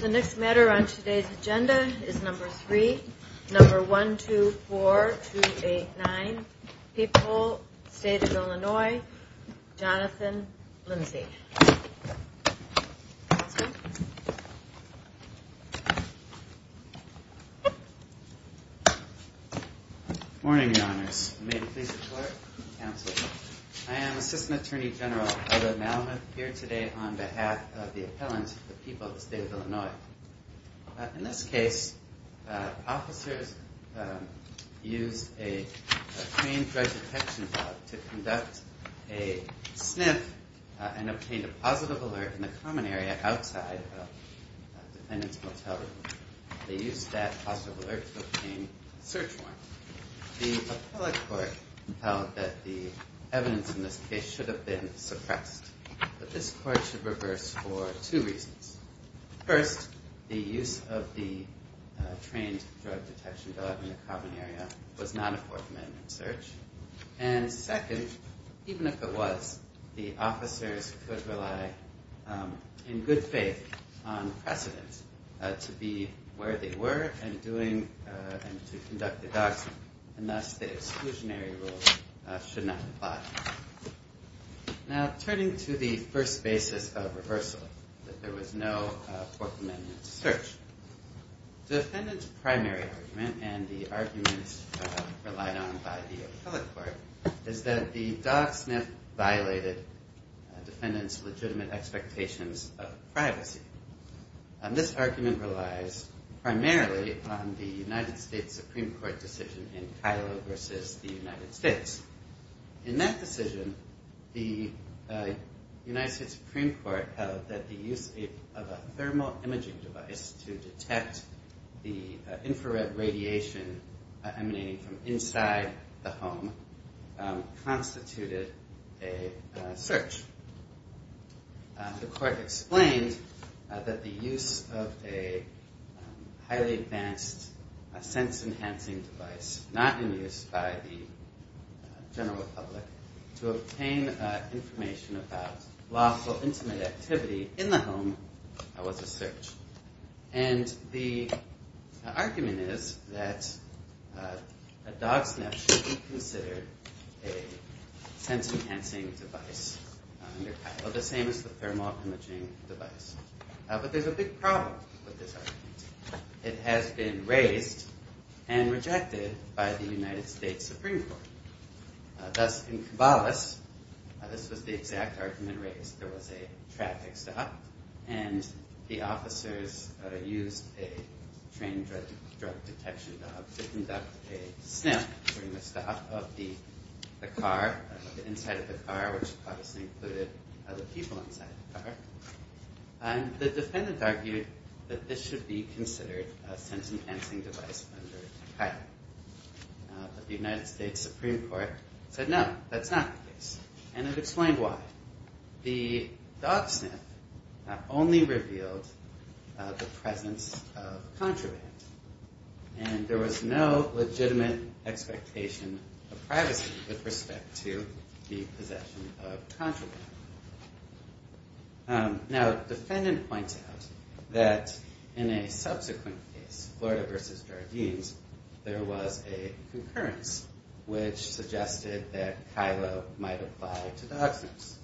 The next matter on today's agenda is number three, number 124289, People State of Illinois, Jonathan Lindsey. Good morning, your honors. May it please the clerk, counsel. I am assistant attorney general here today on behalf of the appellant of the people of the state of Illinois. In this case, officers used a trained drug detection dog to conduct a sniff and obtained a positive alert in the common area outside a defendant's motel room. They used that positive alert to obtain search warrants. The appellate court held that the evidence in this case should have been suppressed. But this court should reverse for two reasons. First, the use of the trained drug detection dog in the common area was not a Fourth Amendment search. And second, even if it was, the officers could rely in good faith on precedent to be where they were and to conduct the dogs, and thus the exclusionary rule should not apply. Now, turning to the first basis of reversal, that there was no Fourth Amendment search, the defendant's primary argument and the arguments relied on by the appellate court is that the dog sniff violated the defendant's legitimate expectations of privacy. And this argument relies primarily on the United States Supreme Court decision in Kylo v. the United States. In that decision, the United States Supreme Court held that the use of a thermal imaging device to detect the infrared radiation emanating from inside the home constituted a search. The court explained that the use of a highly advanced sense-enhancing device not in use by the general public to obtain information about lawful intimate activity in the home was a search. And the argument is that a dog sniff should be considered a sense-enhancing device under Kylo, the same as the thermal imaging device. But there's a big problem with this argument. It has been raised and rejected by the United States Supreme Court. Thus, in Kibales, this was the exact argument raised. There was a traffic stop, and the officers used a trained drug detection dog to conduct a sniff during the stop of the car, of the inside of the car, which obviously included other people inside the car. The defendant argued that this should be considered a sense-enhancing device under Kylo, but the United States Supreme Court said, no, that's not the case. And it explained why. The dog sniff only revealed the presence of contraband, and there was no legitimate expectation of privacy with respect to the possession of contraband. Now, the defendant points out that in a subsequent case, Florida v. Jardines, there was a concurrence, which suggested that Kylo might apply to dog sniffs.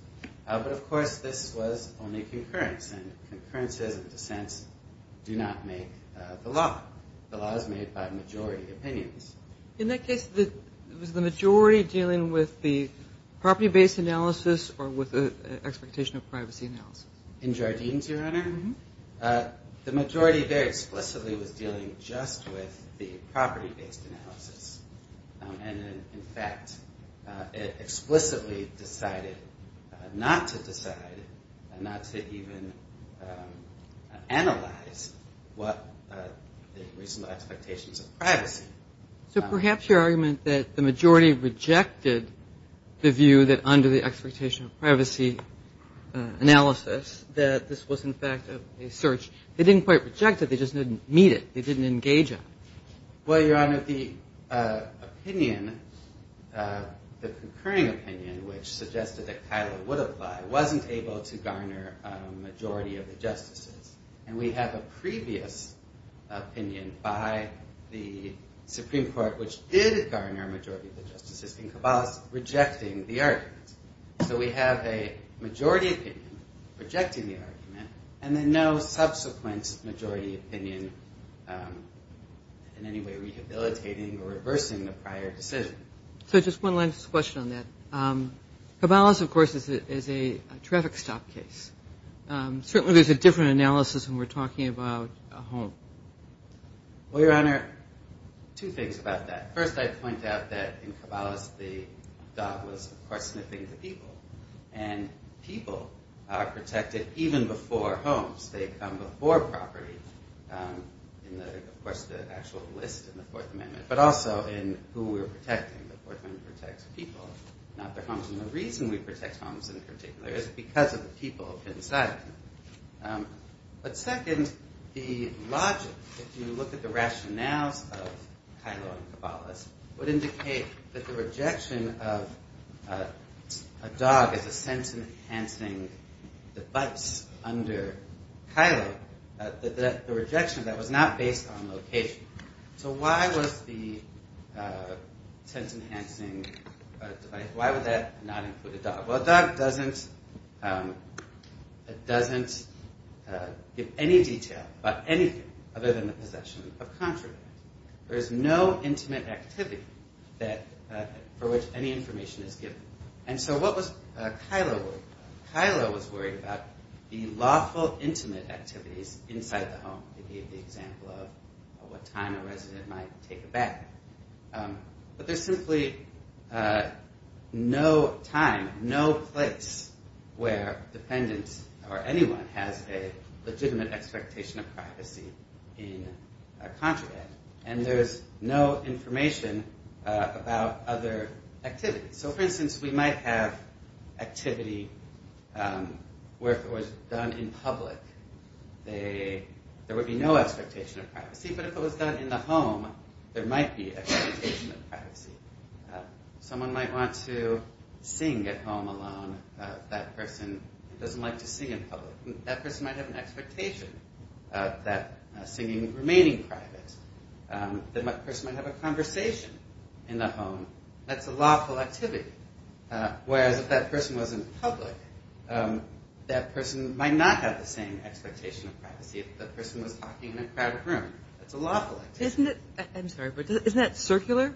But, of course, this was only concurrence, and concurrences and dissents do not make the law. The law is made by majority opinions. In that case, was the majority dealing with the property-based analysis or with the expectation of privacy analysis? In Jardines, Your Honor, the majority very explicitly was dealing just with the property-based analysis. And, in fact, it explicitly decided not to decide and not to even analyze what the reasonable expectations of privacy. So perhaps your argument that the majority rejected the view that under the expectation of privacy analysis that this was, in fact, a search, they didn't quite reject it. They just didn't meet it. They didn't engage on it. Well, Your Honor, the opinion, the concurring opinion, which suggested that Kylo would apply wasn't able to garner a majority of the justices. And we have a previous opinion by the Supreme Court, which did garner a majority of the justices in Cabal's rejecting the argument. So we have a majority opinion rejecting the argument and then no subsequent majority opinion in any way rehabilitating or reversing the prior decision. So just one last question on that. Cabal's, of course, is a traffic stop case. Certainly there's a different analysis when we're talking about a home. Well, Your Honor, two things about that. First, I'd point out that in Cabal's the dog was, of course, sniffing the people. And people are protected even before homes. They come before property in, of course, the actual list in the Fourth Amendment, but also in who we're protecting. The Fourth Amendment protects people, not their homes. And the reason we protect homes in particular is because of the people inside of them. But second, the logic, if you look at the rationales of Kylo and Cabal's, would indicate that the rejection of a dog as a sense-enhancing device under Kylo, the rejection of that was not based on location. So why was the sense-enhancing device, why would that not include a dog? Well, a dog doesn't give any detail about anything other than the possession of contraband. There is no intimate activity for which any information is given. And so what was Kylo worried about? Kylo was worried about the lawful intimate activities inside the home, to give the example of what time a resident might take a bath. But there's simply no time, no place where defendants or anyone has a legitimate expectation of privacy in contraband. And there's no information about other activities. So for instance, we might have activity where if it was done in public, there would be no expectation of privacy. But if it was done in the home, there might be expectation of privacy. Someone might want to sing at home alone. That person doesn't like to sing in public. That person might have an expectation of that singing remaining private. That person might have a conversation in the home. That's a lawful activity. Whereas if that person was in public, that person might not have the same expectation of privacy. If that person was talking in a crowded room, that's a lawful activity. Isn't it – I'm sorry, but isn't that circular?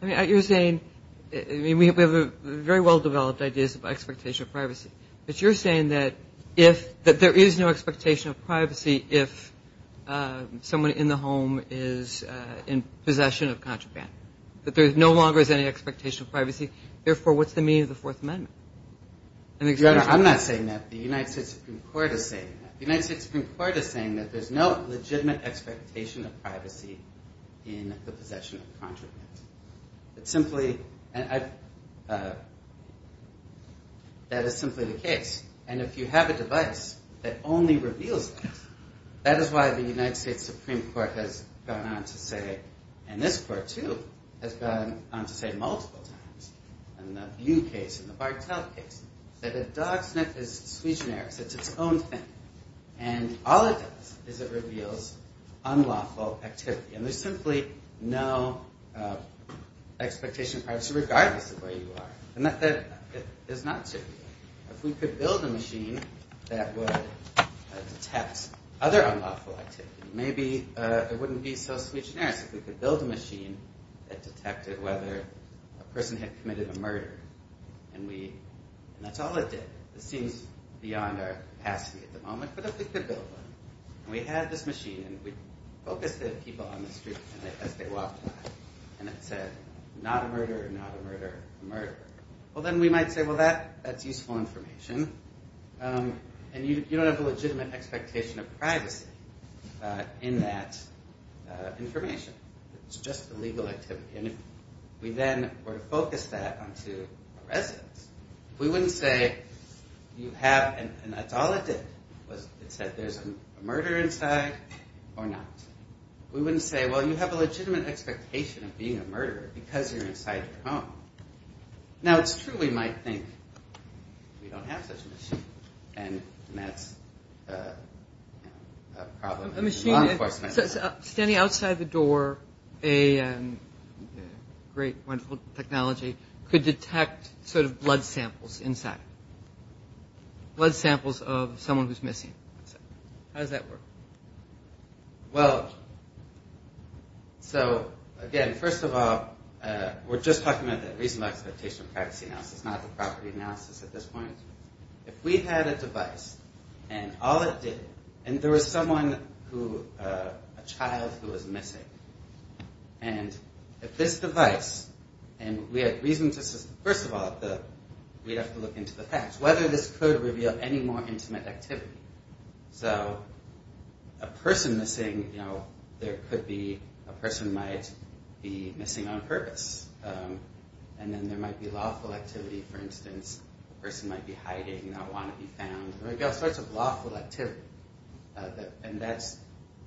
I mean, you're saying – we have very well-developed ideas of expectation of privacy. But you're saying that if – that there is no expectation of privacy if someone in the home is in possession of contraband, that there no longer is any expectation of privacy. Therefore, what's the meaning of the Fourth Amendment? Your Honor, I'm not saying that. The United States Supreme Court is saying that. The United States Supreme Court is saying that there's no legitimate expectation of privacy in the possession of contraband. It's simply – that is simply the case. And if you have a device that only reveals that, that is why the United States Supreme Court has gone on to say, and this court, too, has gone on to say multiple times, in the Butte case, in the Bartel case, that a dog sniff is sui generis. It's its own thing. And all it does is it reveals unlawful activity. And there's simply no expectation of privacy regardless of where you are. The method is not circular. If we could build a machine that would detect other unlawful activity, maybe it wouldn't be so sui generis. If we could build a machine that detected whether a person had committed a murder, and we – and that's all it did. It seems beyond our capacity at the moment. But if we could build one, and we had this machine, and we focused the people on the street as they walked by, and it said, not a murderer, not a murderer, a murderer, well, then we might say, well, that's useful information. And you don't have a legitimate expectation of privacy in that information. It's just illegal activity. And if we then were to focus that onto a residence, we wouldn't say you have – and that's all it did. It said there's a murderer inside or not. We wouldn't say, well, you have a legitimate expectation of being a murderer because you're inside your home. Now, it's true we might think we don't have such a machine, and that's a problem in law enforcement. Standing outside the door, a great, wonderful technology could detect sort of blood samples inside. Blood samples of someone who's missing. How does that work? Well, so, again, first of all, we're just talking about the reasonable expectation of privacy analysis, not the property analysis at this point. If we had a device, and all it did – and there was someone who – a child who was missing. And if this device – and we had reason to – first of all, we'd have to look into the facts, whether this could reveal any more intimate activity. So a person missing, you know, there could be – a person might be missing on purpose. And then there might be lawful activity. For instance, a person might be hiding, not want to be found. There would be all sorts of lawful activity. And that's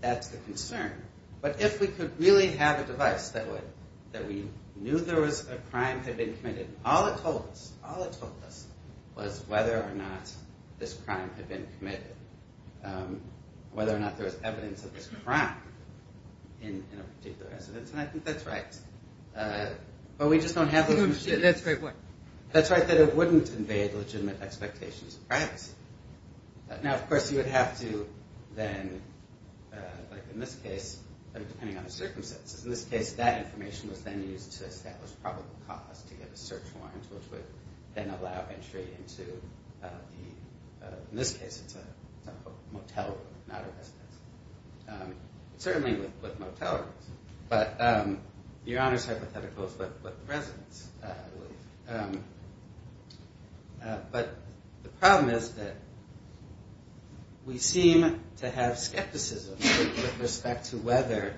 the concern. But if we could really have a device that would – that we knew there was a crime had been committed, all it told us, all it told us, was whether or not this crime had been committed, whether or not there was evidence of this crime in a particular residence. And I think that's right. But we just don't have those – That's a great point. That's right, that it wouldn't invade legitimate expectations of privacy. Now, of course, you would have to then, like in this case, depending on the circumstances, in this case, that information was then used to establish probable cause to get a search warrant, which would then allow entry into the – in this case, it's a motel room, not a residence. Certainly with motel rooms. But your Honor's hypothetical is what the residence would be. But the problem is that we seem to have skepticism with respect to whether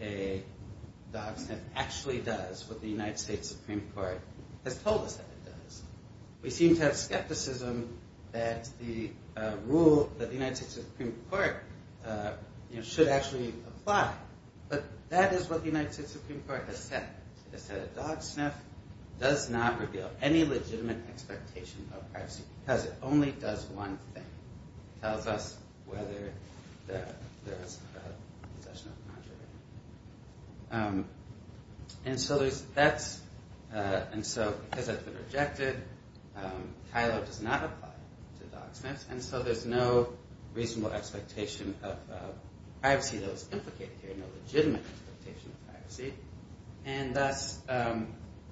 a dog sniff actually does what the United States Supreme Court has told us that it does. We seem to have skepticism that the rule that the United States Supreme Court should actually apply. But that is what the United States Supreme Court has said. It said a dog sniff does not reveal any legitimate expectation of privacy because it only does one thing. It tells us whether there is a possession of a non-driven animal. And so there's – that's – and so because that's been rejected, Kylo does not apply to dog sniffs, and so there's no reasonable expectation of privacy that was implicated here, no legitimate expectation of privacy, and thus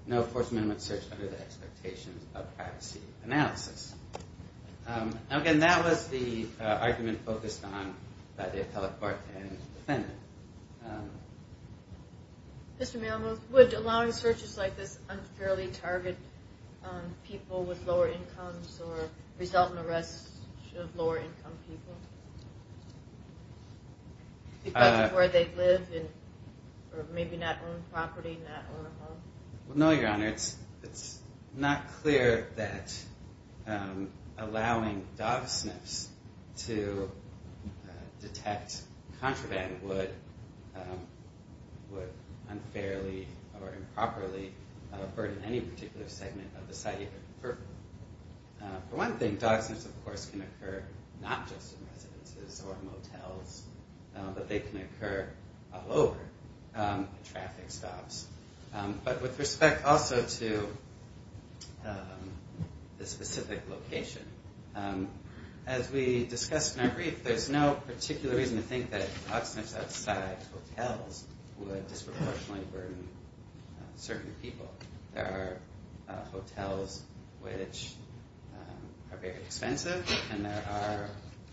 no forced minimum search under the expectations of privacy analysis. And again, that was the argument focused on by the appellate court and defendant. Mr. Malamud, would allowing searches like this unfairly target people with lower incomes or result in arrests of lower income people because of where they live or maybe not own property, not own a home? Well, no, Your Honor. It's not clear that allowing dog sniffs to detect contraband would unfairly or improperly burden any particular segment of the site of your property. For one thing, dog sniffs, of course, can occur not just in residences or motels, but they can occur all over at traffic stops. But with respect also to the specific location, as we discussed in our brief, there's no particular reason to think that dog sniffs outside hotels would disproportionately burden certain people. There are hotels which are very expensive, and there are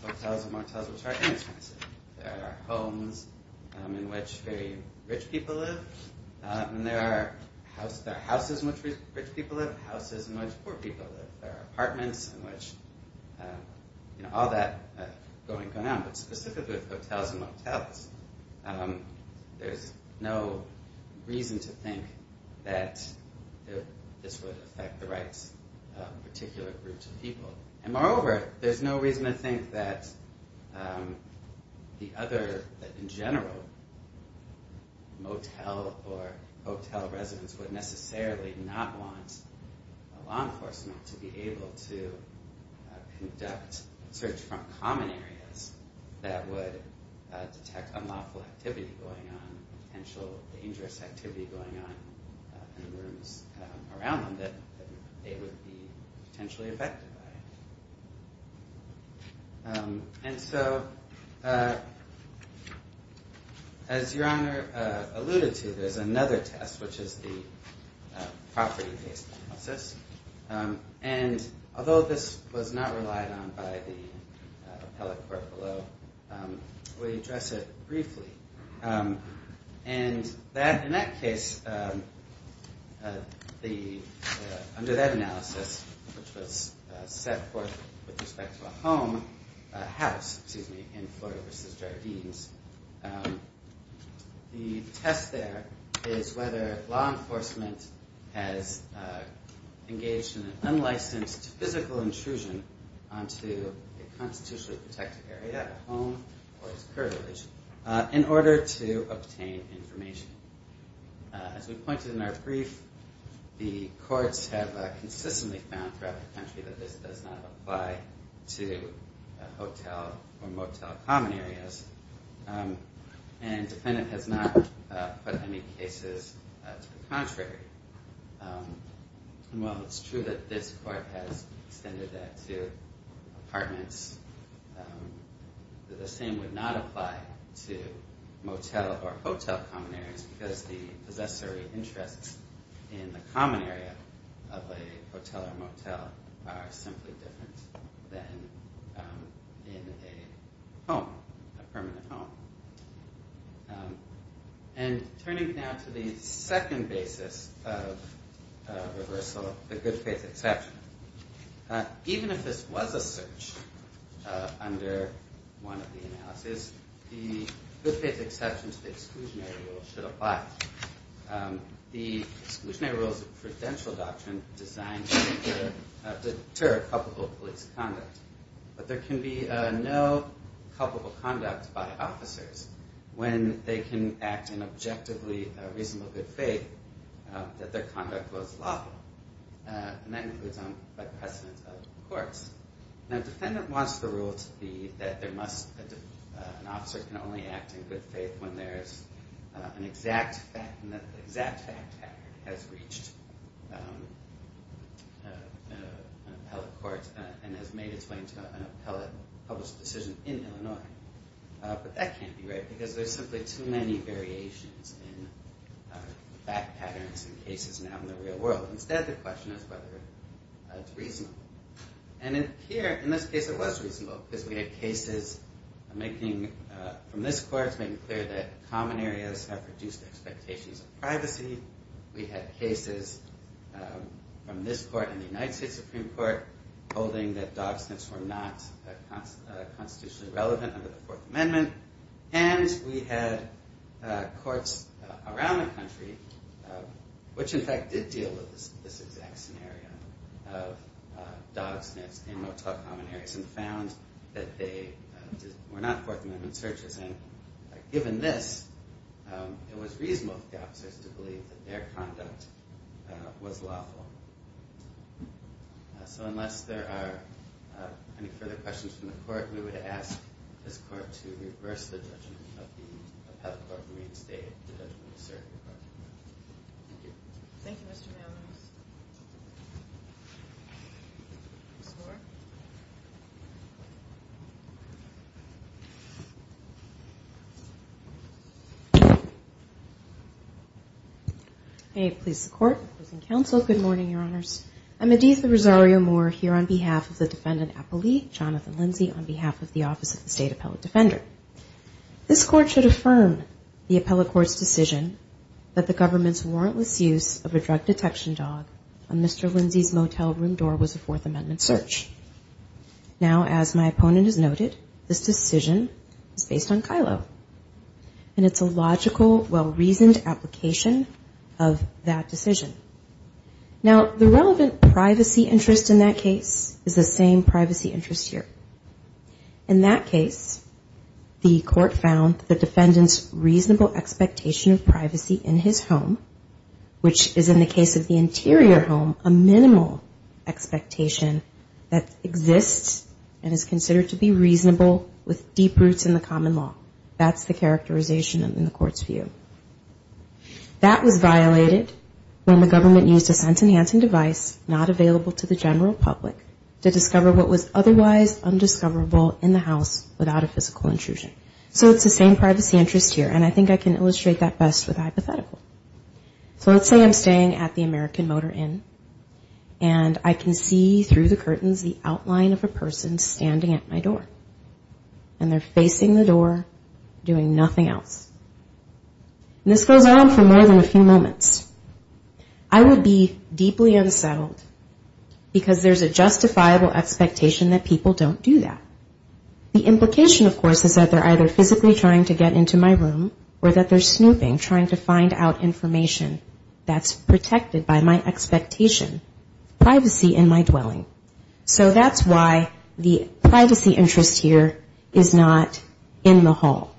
hotels and motels which are inexpensive. There are homes in which very rich people live, and there are houses in which rich people live, and houses in which poor people live. There are apartments in which all that going on. But specifically with hotels and motels, there's no reason to think that this would affect the rights of particular groups of people. And moreover, there's no reason to think that the other, in general, motel or hotel residents would necessarily not want law enforcement to be able to conduct search from common areas that would detect unlawful activity going on, potential dangerous activity going on in the rooms around them that they would be potentially affected by. And so, as Your Honor alluded to, there's another test, which is the property-based analysis. And although this was not relied on by the appellate court below, we address it briefly. And in that case, under that analysis, which was set forth with respect to a home, a house, excuse me, in Florida v. Jardines, the test there is whether law enforcement has engaged in an unlicensed physical intrusion onto a constitutionally protected area, a home, or its curbage. In order to obtain information. As we pointed in our brief, the courts have consistently found throughout the country that this does not apply to hotel or motel common areas. And the defendant has not put any cases to the contrary. And while it's true that this court has extended that to apartments, the same would not apply to motel or hotel common areas because the possessory interests in the common area of a hotel or motel are simply different than in a home, a permanent home. And turning now to the second basis of reversal, the good-faith exception. Even if this was a search under one of the analyses, the good-faith exception to the exclusionary rule should apply. The exclusionary rule is a prudential doctrine designed to deter culpable police conduct. But there can be no culpable conduct by officers when they can act in objectively reasonable good faith that their conduct was lawful. And that includes by precedent of the courts. Now, the defendant wants the rule to be that an officer can only act in good faith when the exact fact has reached an appellate court and has made its way into an appellate public decision in Illinois. But that can't be right because there's simply too many variations in fact patterns and cases now in the real world. Instead, the question is whether it's reasonable. And here, in this case, it was reasonable because we had cases from this court making clear that common areas have reduced expectations of privacy. We had cases from this court and the United States Supreme Court holding that dog sniffs were not constitutionally relevant under the Fourth Amendment. And we had courts around the country, which in fact did deal with this exact scenario of dog sniffs in no-talk common areas and found that they were not Fourth Amendment searches. And given this, it was reasonable for the officers to believe that their conduct was lawful. So unless there are any further questions from the court, we would ask this court to reverse the judgment of the appellate court and reinstate the judgment of the Supreme Court. Thank you. Thank you, Mr. Malinowski. Ms. Moore. May it please the Court, opposing counsel, good morning, Your Honors. I'm Edith Rosario-Moore here on behalf of the defendant, Apolli, Jonathan Lindsay on behalf of the Office of the State Appellate Defender. This court should affirm the appellate court's decision that the government's warrantless use of a drug detection dog on Mr. Lindsay's motel room door was a Fourth Amendment search. Now, as my opponent has noted, this decision is based on Kylo, and it's a logical, well-reasoned application of that decision. Now, the relevant privacy interest in that case is the same privacy interest here. In that case, the court found the defendant's reasonable expectation of privacy in his home, which is, in the case of the interior home, a minimal expectation that exists and is considered to be reasonable with deep roots in the common law. That's the characterization in the court's view. That was violated when the government used a sense-enhancing device not available to the general public to discover what was otherwise undiscoverable in the house without a physical intrusion. So it's the same privacy interest here, and I think I can illustrate that best with a hypothetical. So let's say I'm staying at the American Motor Inn, and I can see through the curtains the outline of a person standing at my door, and they're facing the door, doing nothing else. And this goes on for more than a few moments. I would be deeply unsettled, because there's a justifiable expectation that people don't do that. The implication, of course, is that they're either physically trying to get into my room, or that they're snooping, trying to find out information that's protected by my expectation, privacy in my dwelling. So that's why the privacy interest here is not in the hall,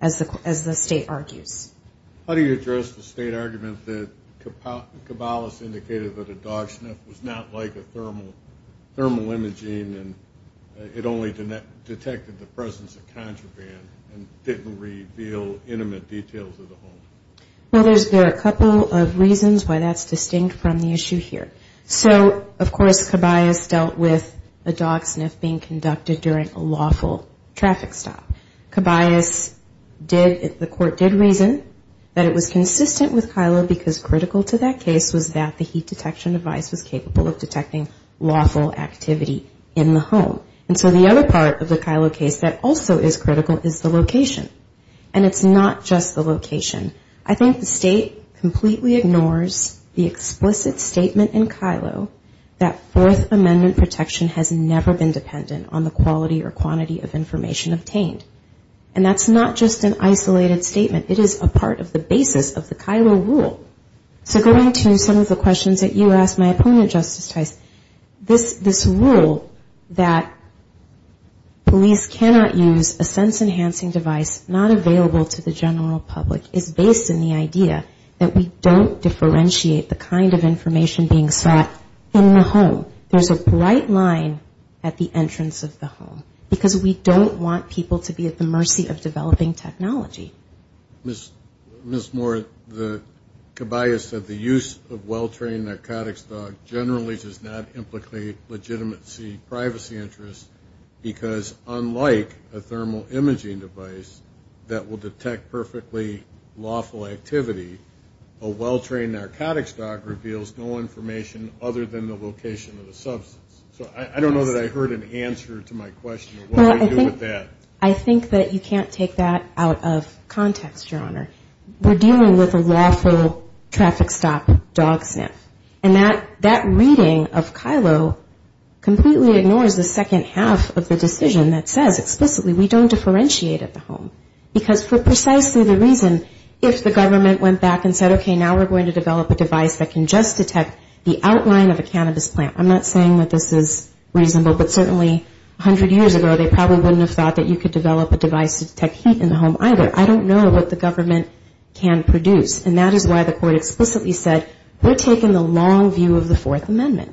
as the state argues. How do you address the state argument that Caballos indicated that a dog sniff was not like a thermal imaging, and it only detected the presence of contraband and didn't reveal intimate details of the home? Well, there are a couple of reasons why that's distinct from the issue here. So, of course, Caballos dealt with a dog sniff being conducted during a lawful traffic stop. Caballos did, the court did reason that it was consistent with Kylo, because critical to that case was that the heat detection device was capable of detecting lawful activity in the home. And so the other part of the Kylo case that also is critical is the location. And it's not just the location. In Kylo, that Fourth Amendment protection has never been dependent on the quality or quantity of information obtained. And that's not just an isolated statement. It is a part of the basis of the Kylo rule. So going to some of the questions that you asked my opponent, Justice Tice, this rule that police cannot use a sense-enhancing device not available to the general public is based in the idea that we don't differentiate the kind of threat in the home. There's a bright line at the entrance of the home, because we don't want people to be at the mercy of developing technology. Ms. Moore, Caballos said the use of well-trained narcotics dog generally does not implicate legitimacy, privacy interests, because unlike a thermal imaging device that will detect perfectly lawful activity, a well-trained narcotics dog reveals no information other than the location of the substance. So I don't know that I heard an answer to my question of what we do with that. I think that you can't take that out of context, Your Honor. We're dealing with a lawful traffic stop dog sniff. And that reading of Kylo completely ignores the second half of the decision that says explicitly we don't differentiate at the home. Because for precisely the reason if the government went back and said, okay, now we're going to develop a device that can just detect the outline of a cannabis plant. I'm not saying that this is reasonable, but certainly 100 years ago they probably wouldn't have thought that you could develop a device to detect heat in the home either. I don't know what the government can produce. And that is why the court explicitly said we're taking the long view of the Fourth Amendment.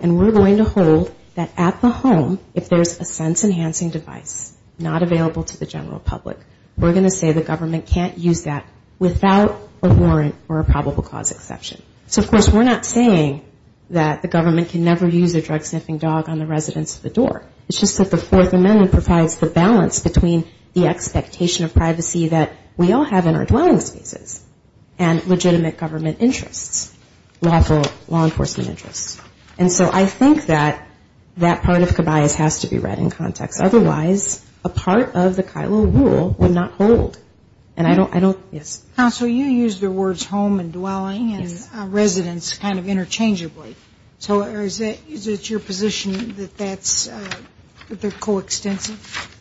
And we're going to hold that at the home if there's a sense enhancing device not available to the general public, we're going to say the government can't use that without a warrant or a probable cause exception. So of course we're not saying that the government can never use a drug sniffing dog on the residence of the door. It's just that the Fourth Amendment provides the balance between the expectation of privacy that we all have in our dwelling spaces and legitimate government interests, law enforcement interests. And so I think that that part of cabayas has to be read in context. Otherwise, a part of the KILO rule would not hold. And I don't, yes? Counsel, you use the words home and dwelling and residence kind of interchangeably. So is it your position that that's, they're coextensive?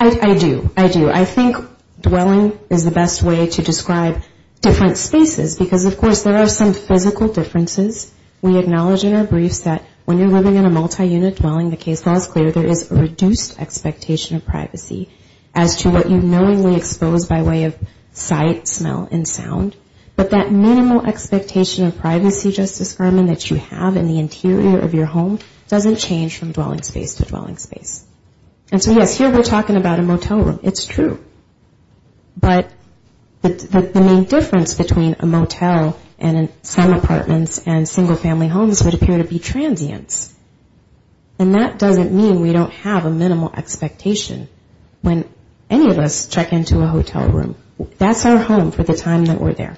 I do. I do. I think dwelling is the best way to describe different spaces because of course there are some physical differences. We acknowledge in our briefs that when you're living in a multi-unit dwelling, the case law is clear. There is a reduced expectation of privacy as to what you knowingly expose by way of sight, smell, and sound. But that minimal expectation of privacy, Justice Furman, that you have in the interior of your home doesn't change from dwelling space to dwelling space. And so yes, here we're talking about a motel room. It's true. But the main difference between a motel and some apartments and single family homes would appear to be transients. And that doesn't mean we don't have a minimal expectation when any of us check into a hotel room. That's our home for the time that we're there.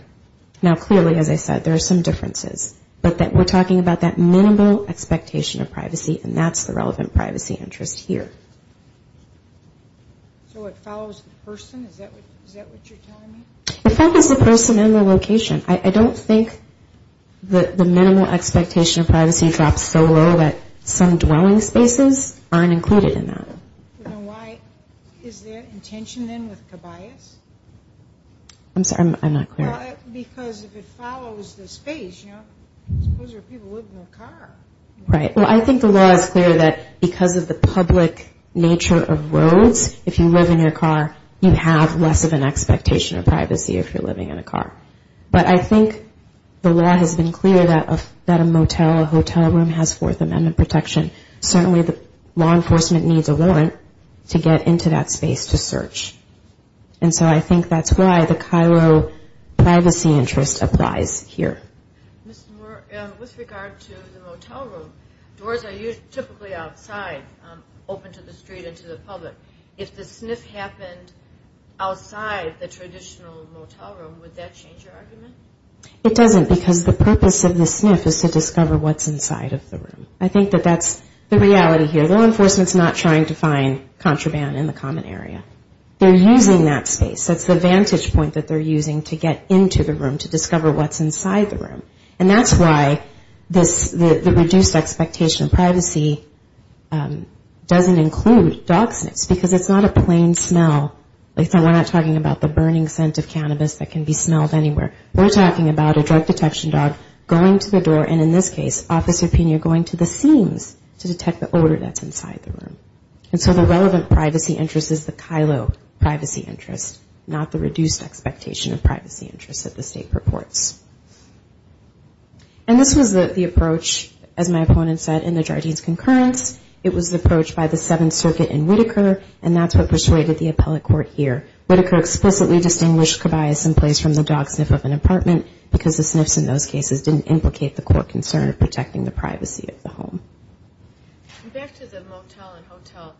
Now clearly, as I said, there are some differences. But we're talking about that minimal expectation of privacy and that's the relevant privacy interest here. So it follows the person? Is that what you're telling me? It follows the person and the location. I don't think the minimal expectation of privacy drops so low that some dwelling spaces aren't there. I'm sorry, I'm not clear. Because if it follows the space, you know, those are people living in a car. Right. Well, I think the law is clear that because of the public nature of roads, if you live in your car, you have less of an expectation of privacy if you're living in a car. But I think the law has been clear that a motel, a hotel room has Fourth Amendment protection. Certainly the law enforcement needs a warrant to get into that space to search. And so I think that's why the Cairo privacy interest applies here. Ms. Moore, with regard to the motel room, doors are typically outside, open to the street and to the public. If the sniff happened outside the traditional motel room, would that change your argument? It doesn't because the purpose of the sniff is to discover what's inside of the room. I think that that's the reality here. Law enforcement's not trying to find contraband in the common area. They're using that space. That's the vantage point that they're using to get into the room to discover what's inside the room. And that's why the reduced expectation of privacy doesn't include dog sniffs because it's not a plain smell. We're not talking about the burning scent of cannabis that can be smelled anywhere. We're talking about a drug detection dog going to the door, and in this case, Officer Pena going to the seams to detect the odor that's inside the room. And so the relevant privacy interest is the Cairo privacy interest, not the reduced expectation of privacy interest that the state purports. And this was the approach, as my opponent said, in the Jardine's concurrence. It was the approach by the Seventh Circuit in Whitaker, and that's what persuaded the appellate court here. Whitaker explicitly distinguished cobias in place from the dog sniff of an apartment because the sniffs in those cases didn't implicate the court concern of protecting the privacy of the home. Back to the motel and hotel.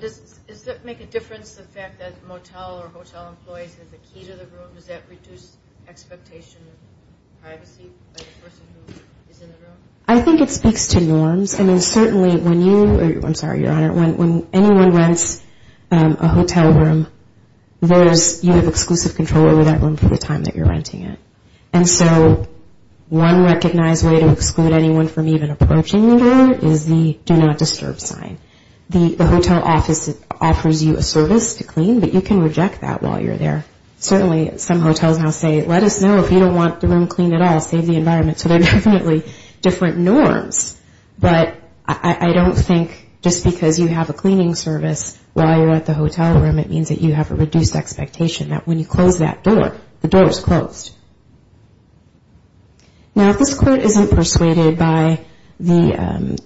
Does that make a difference, the fact that motel or hotel employees have the key to the room? Does that reduce expectation of privacy by the person who is in the room? I think it speaks to norms. I mean, certainly when you, I'm sorry, Your Honor, when anyone rents a hotel room, you have exclusive control over that room for the time that you're renting it. And so one recognized way to exclude anyone from even approaching the room is the do not disturb sign. The hotel office offers you a service to clean, but you can reject that while you're there. Certainly some hotels now say let us know if you don't want the room cleaned at all, save the environment. So they're definitely different norms. But I don't think just because you have a cleaning service while you're at the hotel room, it means that you have a reduced expectation that when you close that door, the door is closed. Now if this court isn't persuaded by the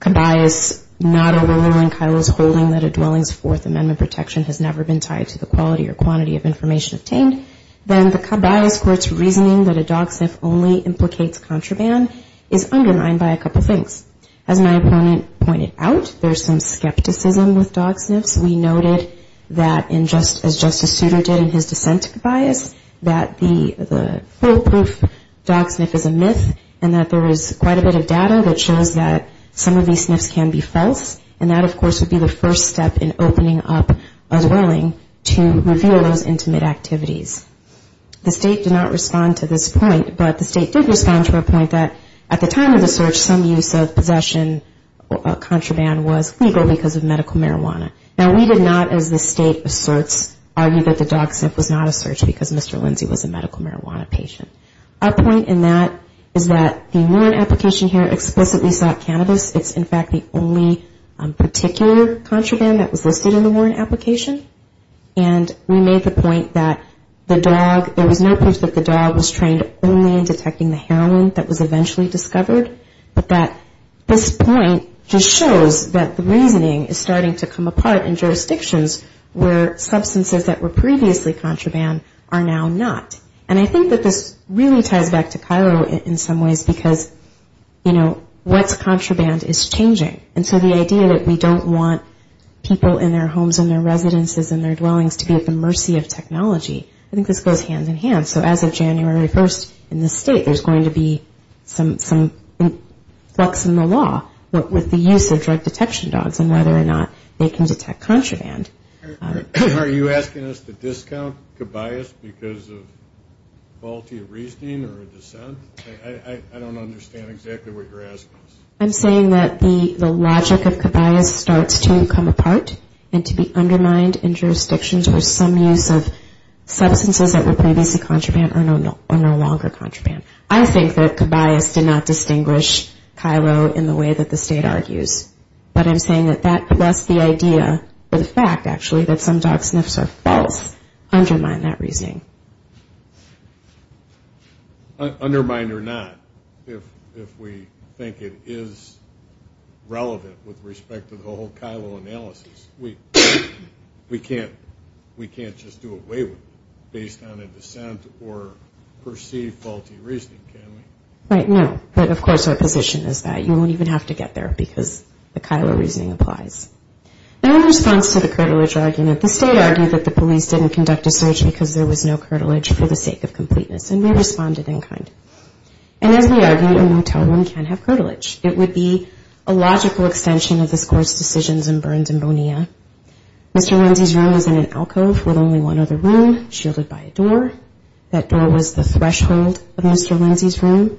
cobias not overruling Kyle's holding that a dwelling's Fourth Amendment protection has never been tied to the quality or quantity of information obtained, then the cobias court's reasoning that a dog sniff only implicates contraband is undermined by a couple things. As my opponent pointed out, there's some skepticism with dog sniffs. We noted that as Justice Souter did in his dissent to cobias, that the foolproof dog sniff is a myth and that there was quite a bit of data that shows that some of these sniffs can be false. And that, of course, would be the first step in opening up a dwelling to reveal those intimate activities. The state did not respond to this point, but the state did respond to a point that at the time of the search, some use of possession or contraband was legal because of medical marijuana. Now we did not, as the state asserts, argue that the dog sniff was not a search because Mr. Lindsay was a medical marijuana patient. Our point in that is that the warrant application here explicitly sought cannabis. It's in fact the only particular contraband that was listed in the warrant application. And we made the point that the dog, there was no proof that the dog was trained only in detecting the heroin that was eventually discovered, but that this point just shows that the reasoning is starting to come apart in jurisdictions where substances that were previously contraband are now not. And I think that this really ties back to Cairo in some ways because, you know, what's contraband is changing. And so the idea that we don't want people in their homes and their residences and their dwellings to be at the mercy of technology, I think this goes hand in hand. So as of January 1st, in the state, there's going to be some flux in the law with the use of drug detection dogs and whether or not they can detect contraband. Are you asking us to discount cabayas because of faulty reasoning or dissent? I don't understand exactly what you're asking. I'm saying that the logic of cabayas starts to come apart and to be undermined in jurisdictions where some use of substances that were previously contraband are no longer contraband. I think that cabayas did not distinguish Cairo in the way that the state argues. But I'm saying that that plus the idea or the fact actually that some dog sniffs are false undermine that reasoning. Undermine or not, if we think it is relevant with respect to the whole Cairo analysis. We can't just do a waiver based on a dissent or perceived faulty reasoning, can we? Right, no. But of course our position is that you won't even have to get there because the Cairo reasoning applies. Now in response to the privilege argument, the state argued that the police didn't conduct a search because there was no curtilage for the sake of completeness and we responded in kind. And as we argued, a motel room can have curtilage. It would be a logical extension of this Court's decisions in Burns and Bonilla. Mr. Lindsey's room was in an alcove with only one other room, shielded by a door. That door was the threshold of Mr. Lindsey's room.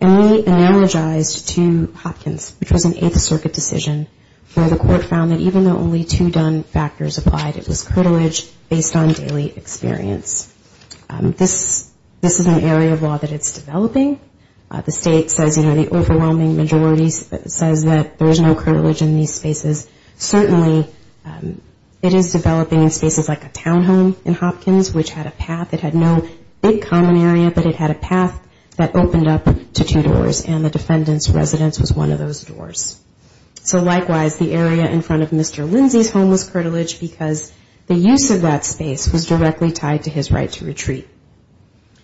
And we analogized to Hopkins, which was an Eighth Circuit decision where the Court found that even though only two done factors applied, it was not enough. This is an area of law that is developing. The state says, you know, the overwhelming majority says that there is no curtilage in these spaces. Certainly, it is developing in spaces like a townhome in Hopkins, which had a path. It had no big common area, but it had a path that opened up to two doors and the defendant's residence was one of those doors. So likewise, the area in front of Mr. Lindsey's home was curtilage because the use of that space was directly tied to his right to retreat.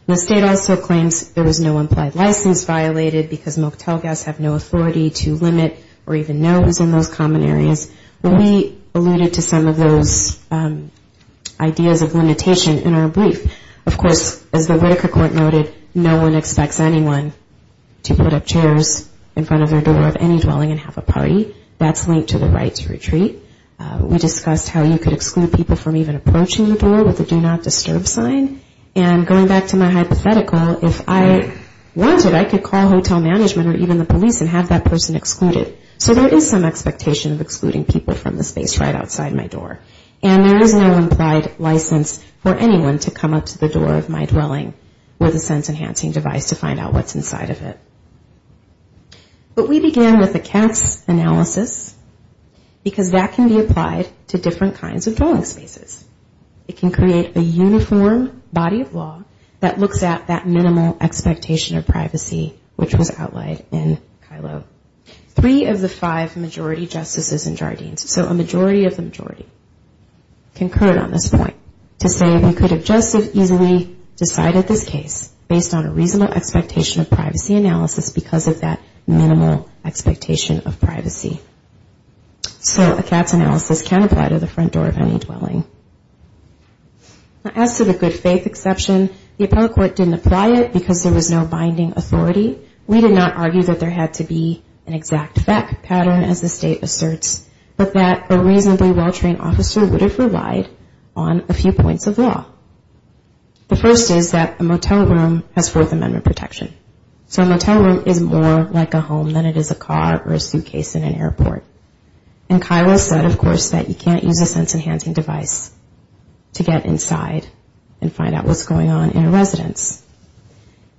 The state also claims there was no implied license violated because motel guests have no authority to limit or even know who is in those common areas. We alluded to some of those ideas of limitation in our brief. Of course, as the Whitaker Court noted, no one expects anyone to put up chairs in front of their door of any dwelling and have a party. That's linked to the right to retreat. We discussed how you could exclude people from even approaching the door with a do not disturb sign. And going back to my hypothetical, if I wanted, I could call hotel management or even the police and have that person excluded. So there is some expectation of excluding people from the space right outside my door. And there is no implied license for anyone to come up to the door of my dwelling with a sense enhancing device to find out what's inside of it. But we began with a CATS analysis because that can be applied to different kinds of dwelling spaces. It can create a uniform body of law that looks at that minimal expectation of privacy, which was outlined in Kylo. Three of the five majority justices in Jardines, so a majority of the majority, concurred on this point to say we could have just as easily decided this case based on a reasonable expectation of privacy analysis because of that minimal expectation of privacy. So a CATS analysis can apply to the front door of any dwelling. As to the good faith exception, the appellate court didn't apply it because there was no binding authority. We did not argue that there had to be an exact fact pattern as the state asserts, but that a reasonably well-trained officer would have relied on a few months of amendment protection. So a motel room is more like a home than it is a car or a suitcase in an airport. And Kylo said, of course, that you can't use a sense enhancing device to get inside and find out what's going on in a residence.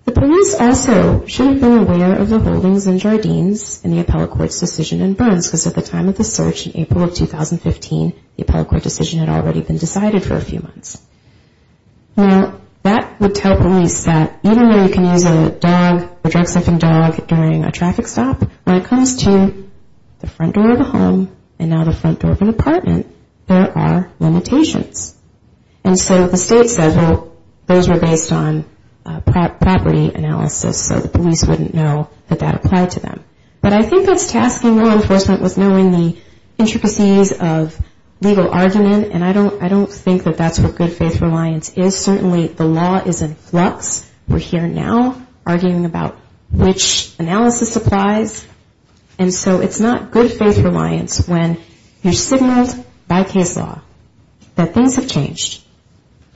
The police also should have been aware of the holdings in Jardines and the appellate court's decision in Burns because at the time of the search in April of 2015, the appellate court decision had already been decided for a few months. Now that would tell police that even though you can use a dog, a drug-suffering dog, during a traffic stop, when it comes to the front door of a home and now the front door of an apartment, there are limitations. And so the state said, well, those were based on property analysis, so the police wouldn't know that that applied to them. But I think that's tasking law enforcement with knowing the intricacies of legal argument, and I don't think that that's what good faith reliance is. Certainly the law is in flux. We're here now. Arguing about which analysis applies. And so it's not good faith reliance when you're signaled by case law that things have changed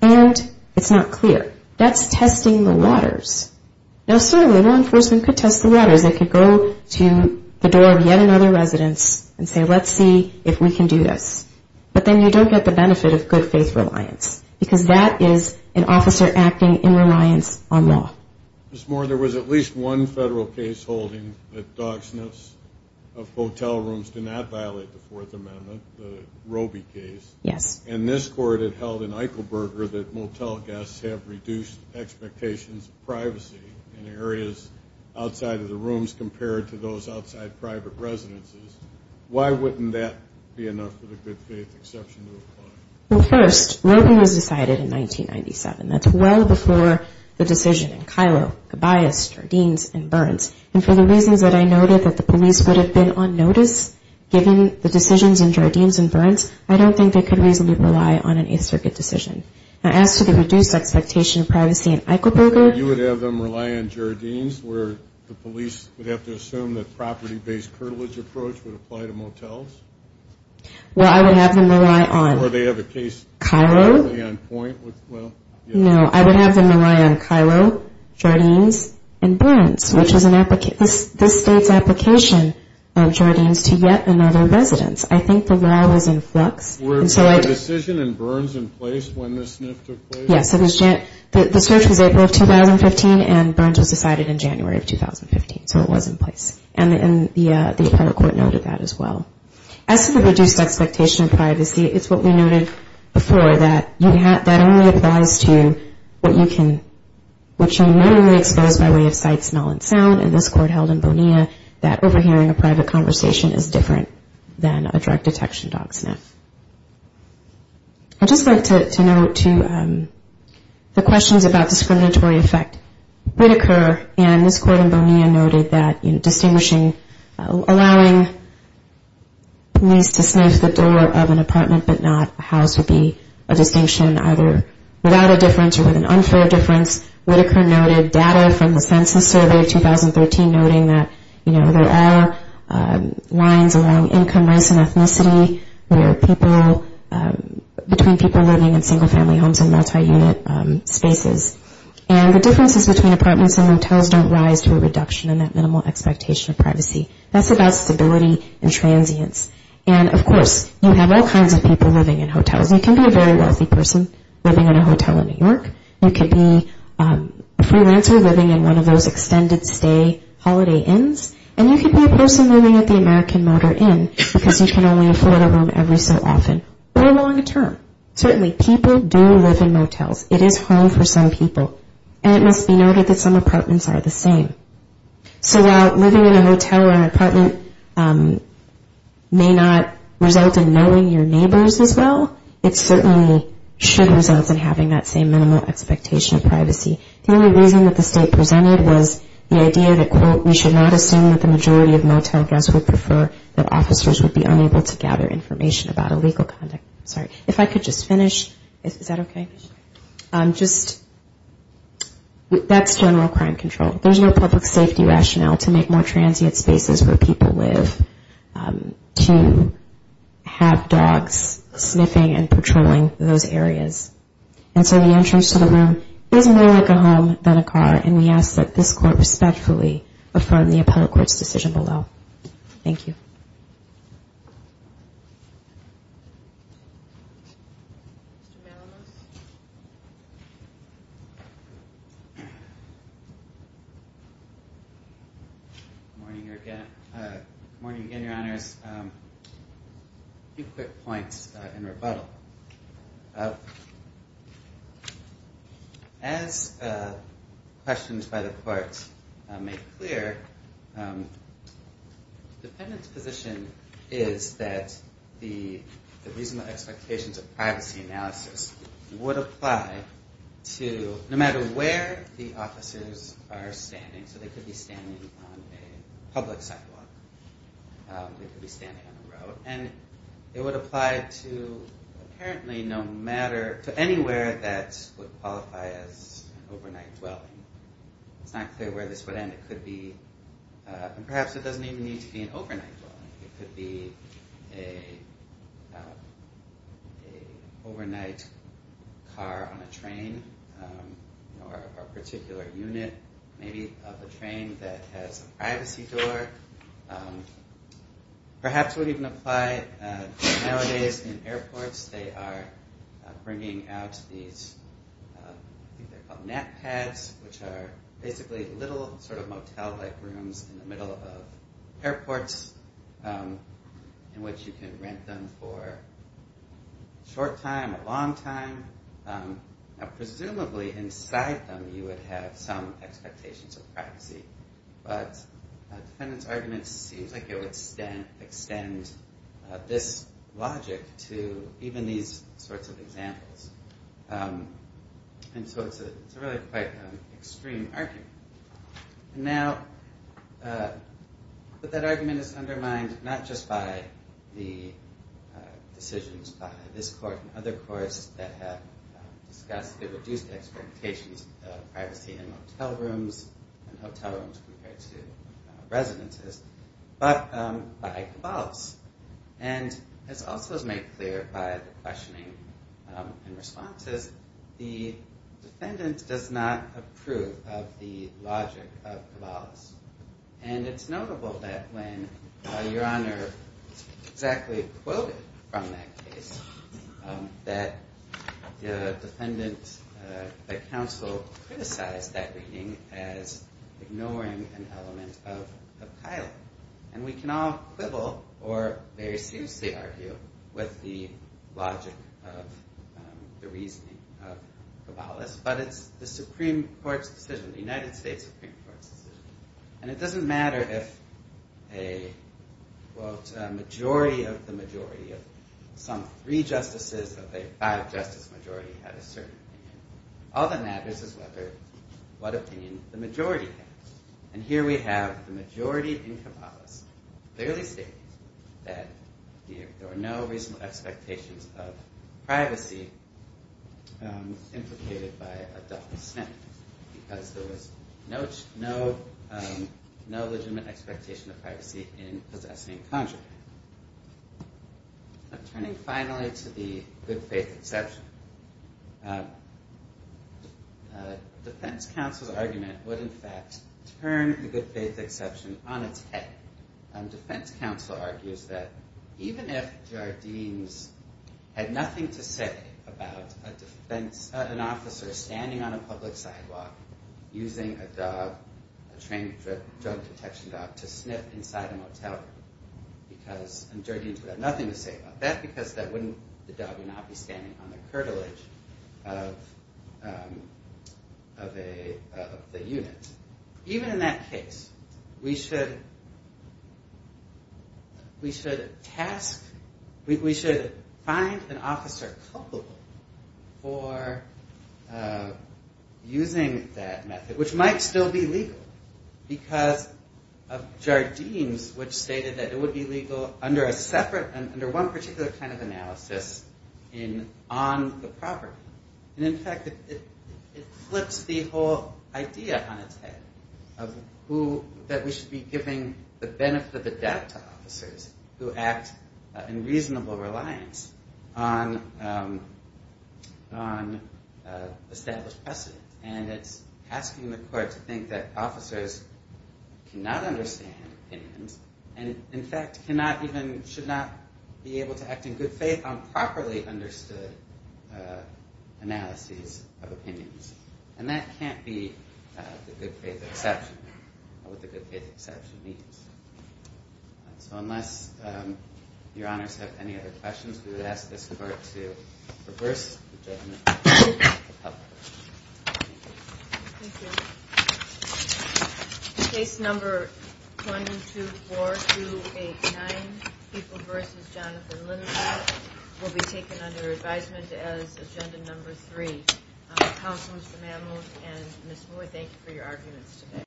and it's not clear. That's testing the waters. Now certainly law enforcement could test the waters. They could go to the door of yet another residence and say, let's see if we can do this. But then you don't get the benefit of good faith reliance. Because that is an officer acting in reliance on law. There was at least one federal case holding that dog sniffs of hotel rooms do not violate the Fourth Amendment, the Robey case. And this court had held in Eichelberger that motel guests have reduced expectations of privacy in areas outside of the rooms compared to those outside private residences. Why wouldn't that be enough of a good faith exception to apply? Well, first, Robey was decided in 1997. That's well before the decision in Kylo, Gobias, Jardines, and Burns. And for the reasons that I noted, that the police would have been on notice given the decisions in Jardines and Burns, I don't think they could reasonably rely on an Eighth Circuit decision. Now as to the reduced expectation of privacy in Eichelberger... You would have them rely on Jardines where the police would have to assume that property-based curtilage approach would apply to motels? No, I would have them rely on Kylo, Jardines, and Burns, which is this state's application of Jardines to yet another residence. I think the law was in flux. The search was April of 2015 and Burns was decided in January of 2015, so it was in place. And the prior court noted that as well. As to the reduced expectation of privacy, it's what we noted before, that that only applies to what you can... which you may only expose by way of sight, smell, and sound. And this court held in Bonilla that overhearing a private conversation is different than a drug detection dog sniff. I'd just like to note, too, the questions about discriminatory effect would occur, and this court in Bonilla noted that distinguishing, allowing police to sniff the door of an apartment but not a house would be a distinction, either without a difference or with an unfair difference. Whitaker noted data from the census survey of 2013 noting that there are lines along income, race, and ethnicity where people, between people living in single-family homes and multi-unit spaces. And the differences between apartments and motels don't rise to a reduction in that minimal expectation of privacy. That's about stability and transience. And, of course, you have all kinds of people living in hotels. You can be a very wealthy person living in a hotel in New York, you can be a freelancer living in one of those extended-stay holiday inns, and you can be a person living at the American Motor Inn because you can only afford a room every so often, or long-term. Certainly, people do live in motels. It is home for some people, and it must be noted that some apartments are the same. So while living in a hotel or an apartment may not result in knowing your neighbors as well, it certainly should result in having that same minimal expectation of privacy. The only reason that the state presented was the idea that, quote, we should not assume that the majority of motel guests would prefer that officers would be unable to gather information about illegal conduct. Sorry, if I could just finish, is that okay? Just, that's general crime control. There's no public safety rationale to make more transient spaces where people live to have dogs sniffing and patrolling those areas. And so the entrance to the room is more like a home than a car, and we ask that this court respectfully affirm the appellate court's decision below. Thank you. Good morning again, Your Honors. A few quick points in rebuttal. As questions by the court make clear, the defendant's position is that the reasonable expectations of privacy analysis would apply to no matter where the officers are standing. So they could be standing on a public sidewalk. They could be standing on the road. And it would apply to apparently no matter, to anywhere that would qualify as overnight dwelling. It's not clear where this would end. It could be, and perhaps it doesn't even need to be an overnight dwelling. It could be an overnight car on a train, or a particular unit, maybe of a train that has a privacy door. Perhaps it would even apply nowadays in airports. They are bringing out these, I think they're called nap pads, which are basically little sort of motel-like rooms in the middle of airports in which you can rent them for a short time, a long time. Presumably inside them you would have some expectations of privacy. But the defendant's argument seems like it would extend this logic to even these sorts of examples. And so it's a really quite extreme argument. Now, that argument is undermined not just by the decisions by this court and other courts that have discussed the reduced expectations of privacy in motel rooms and hotel rooms. Compared to residences. But by Cabal's. And it's also made clear by the questioning and responses. The defendant does not approve of the logic of Cabal's. And it's notable that when Your Honor exactly quoted from that case, that the defendant, the counsel, criticized that reading as ignoring the logic of Cabal's. As ignoring an element of Kyle. And we can all quibble or very seriously argue with the logic of the reasoning of Cabal's. But it's the Supreme Court's decision. The United States Supreme Court's decision. And it doesn't matter if a majority of the majority of some three justices of a five-justice majority had a certain opinion. All that matters is what opinion the majority has. And here we have the majority in Cabal's clearly stating that there are no reasonable expectations of privacy implicated by a death sentence. Because there was no legitimate expectation of privacy in possessing conjugal. Turning finally to the good faith exception. Defense counsel's argument would in fact turn the good faith exception on its head. Defense counsel argues that even if Jardines had nothing to say about an officer standing on a public sidewalk using a dog, a trained drug detection dog, to sniff inside a motel room. Because Jardines would have nothing to say about that because the dog would not be standing on the curtilage of the unit. Even in that case, we should task, we should find an officer culpable for using that method, which might still be legal. Because of Jardines, which stated that it would be legal under a separate, under one particular kind of analysis on the property. And in fact, it flips the whole idea on its head of who, that we should be giving the benefit of the doubt to officers who act in reasonable reliance on established precedent. And it's asking the court to think that officers cannot understand opinions, and in fact, cannot even, should not be able to act in good faith on properly understood analyses of opinions. And that can't be the good faith exception, or what the good faith exception means. So unless your honors have any other questions, we would ask this court to reverse the judgment.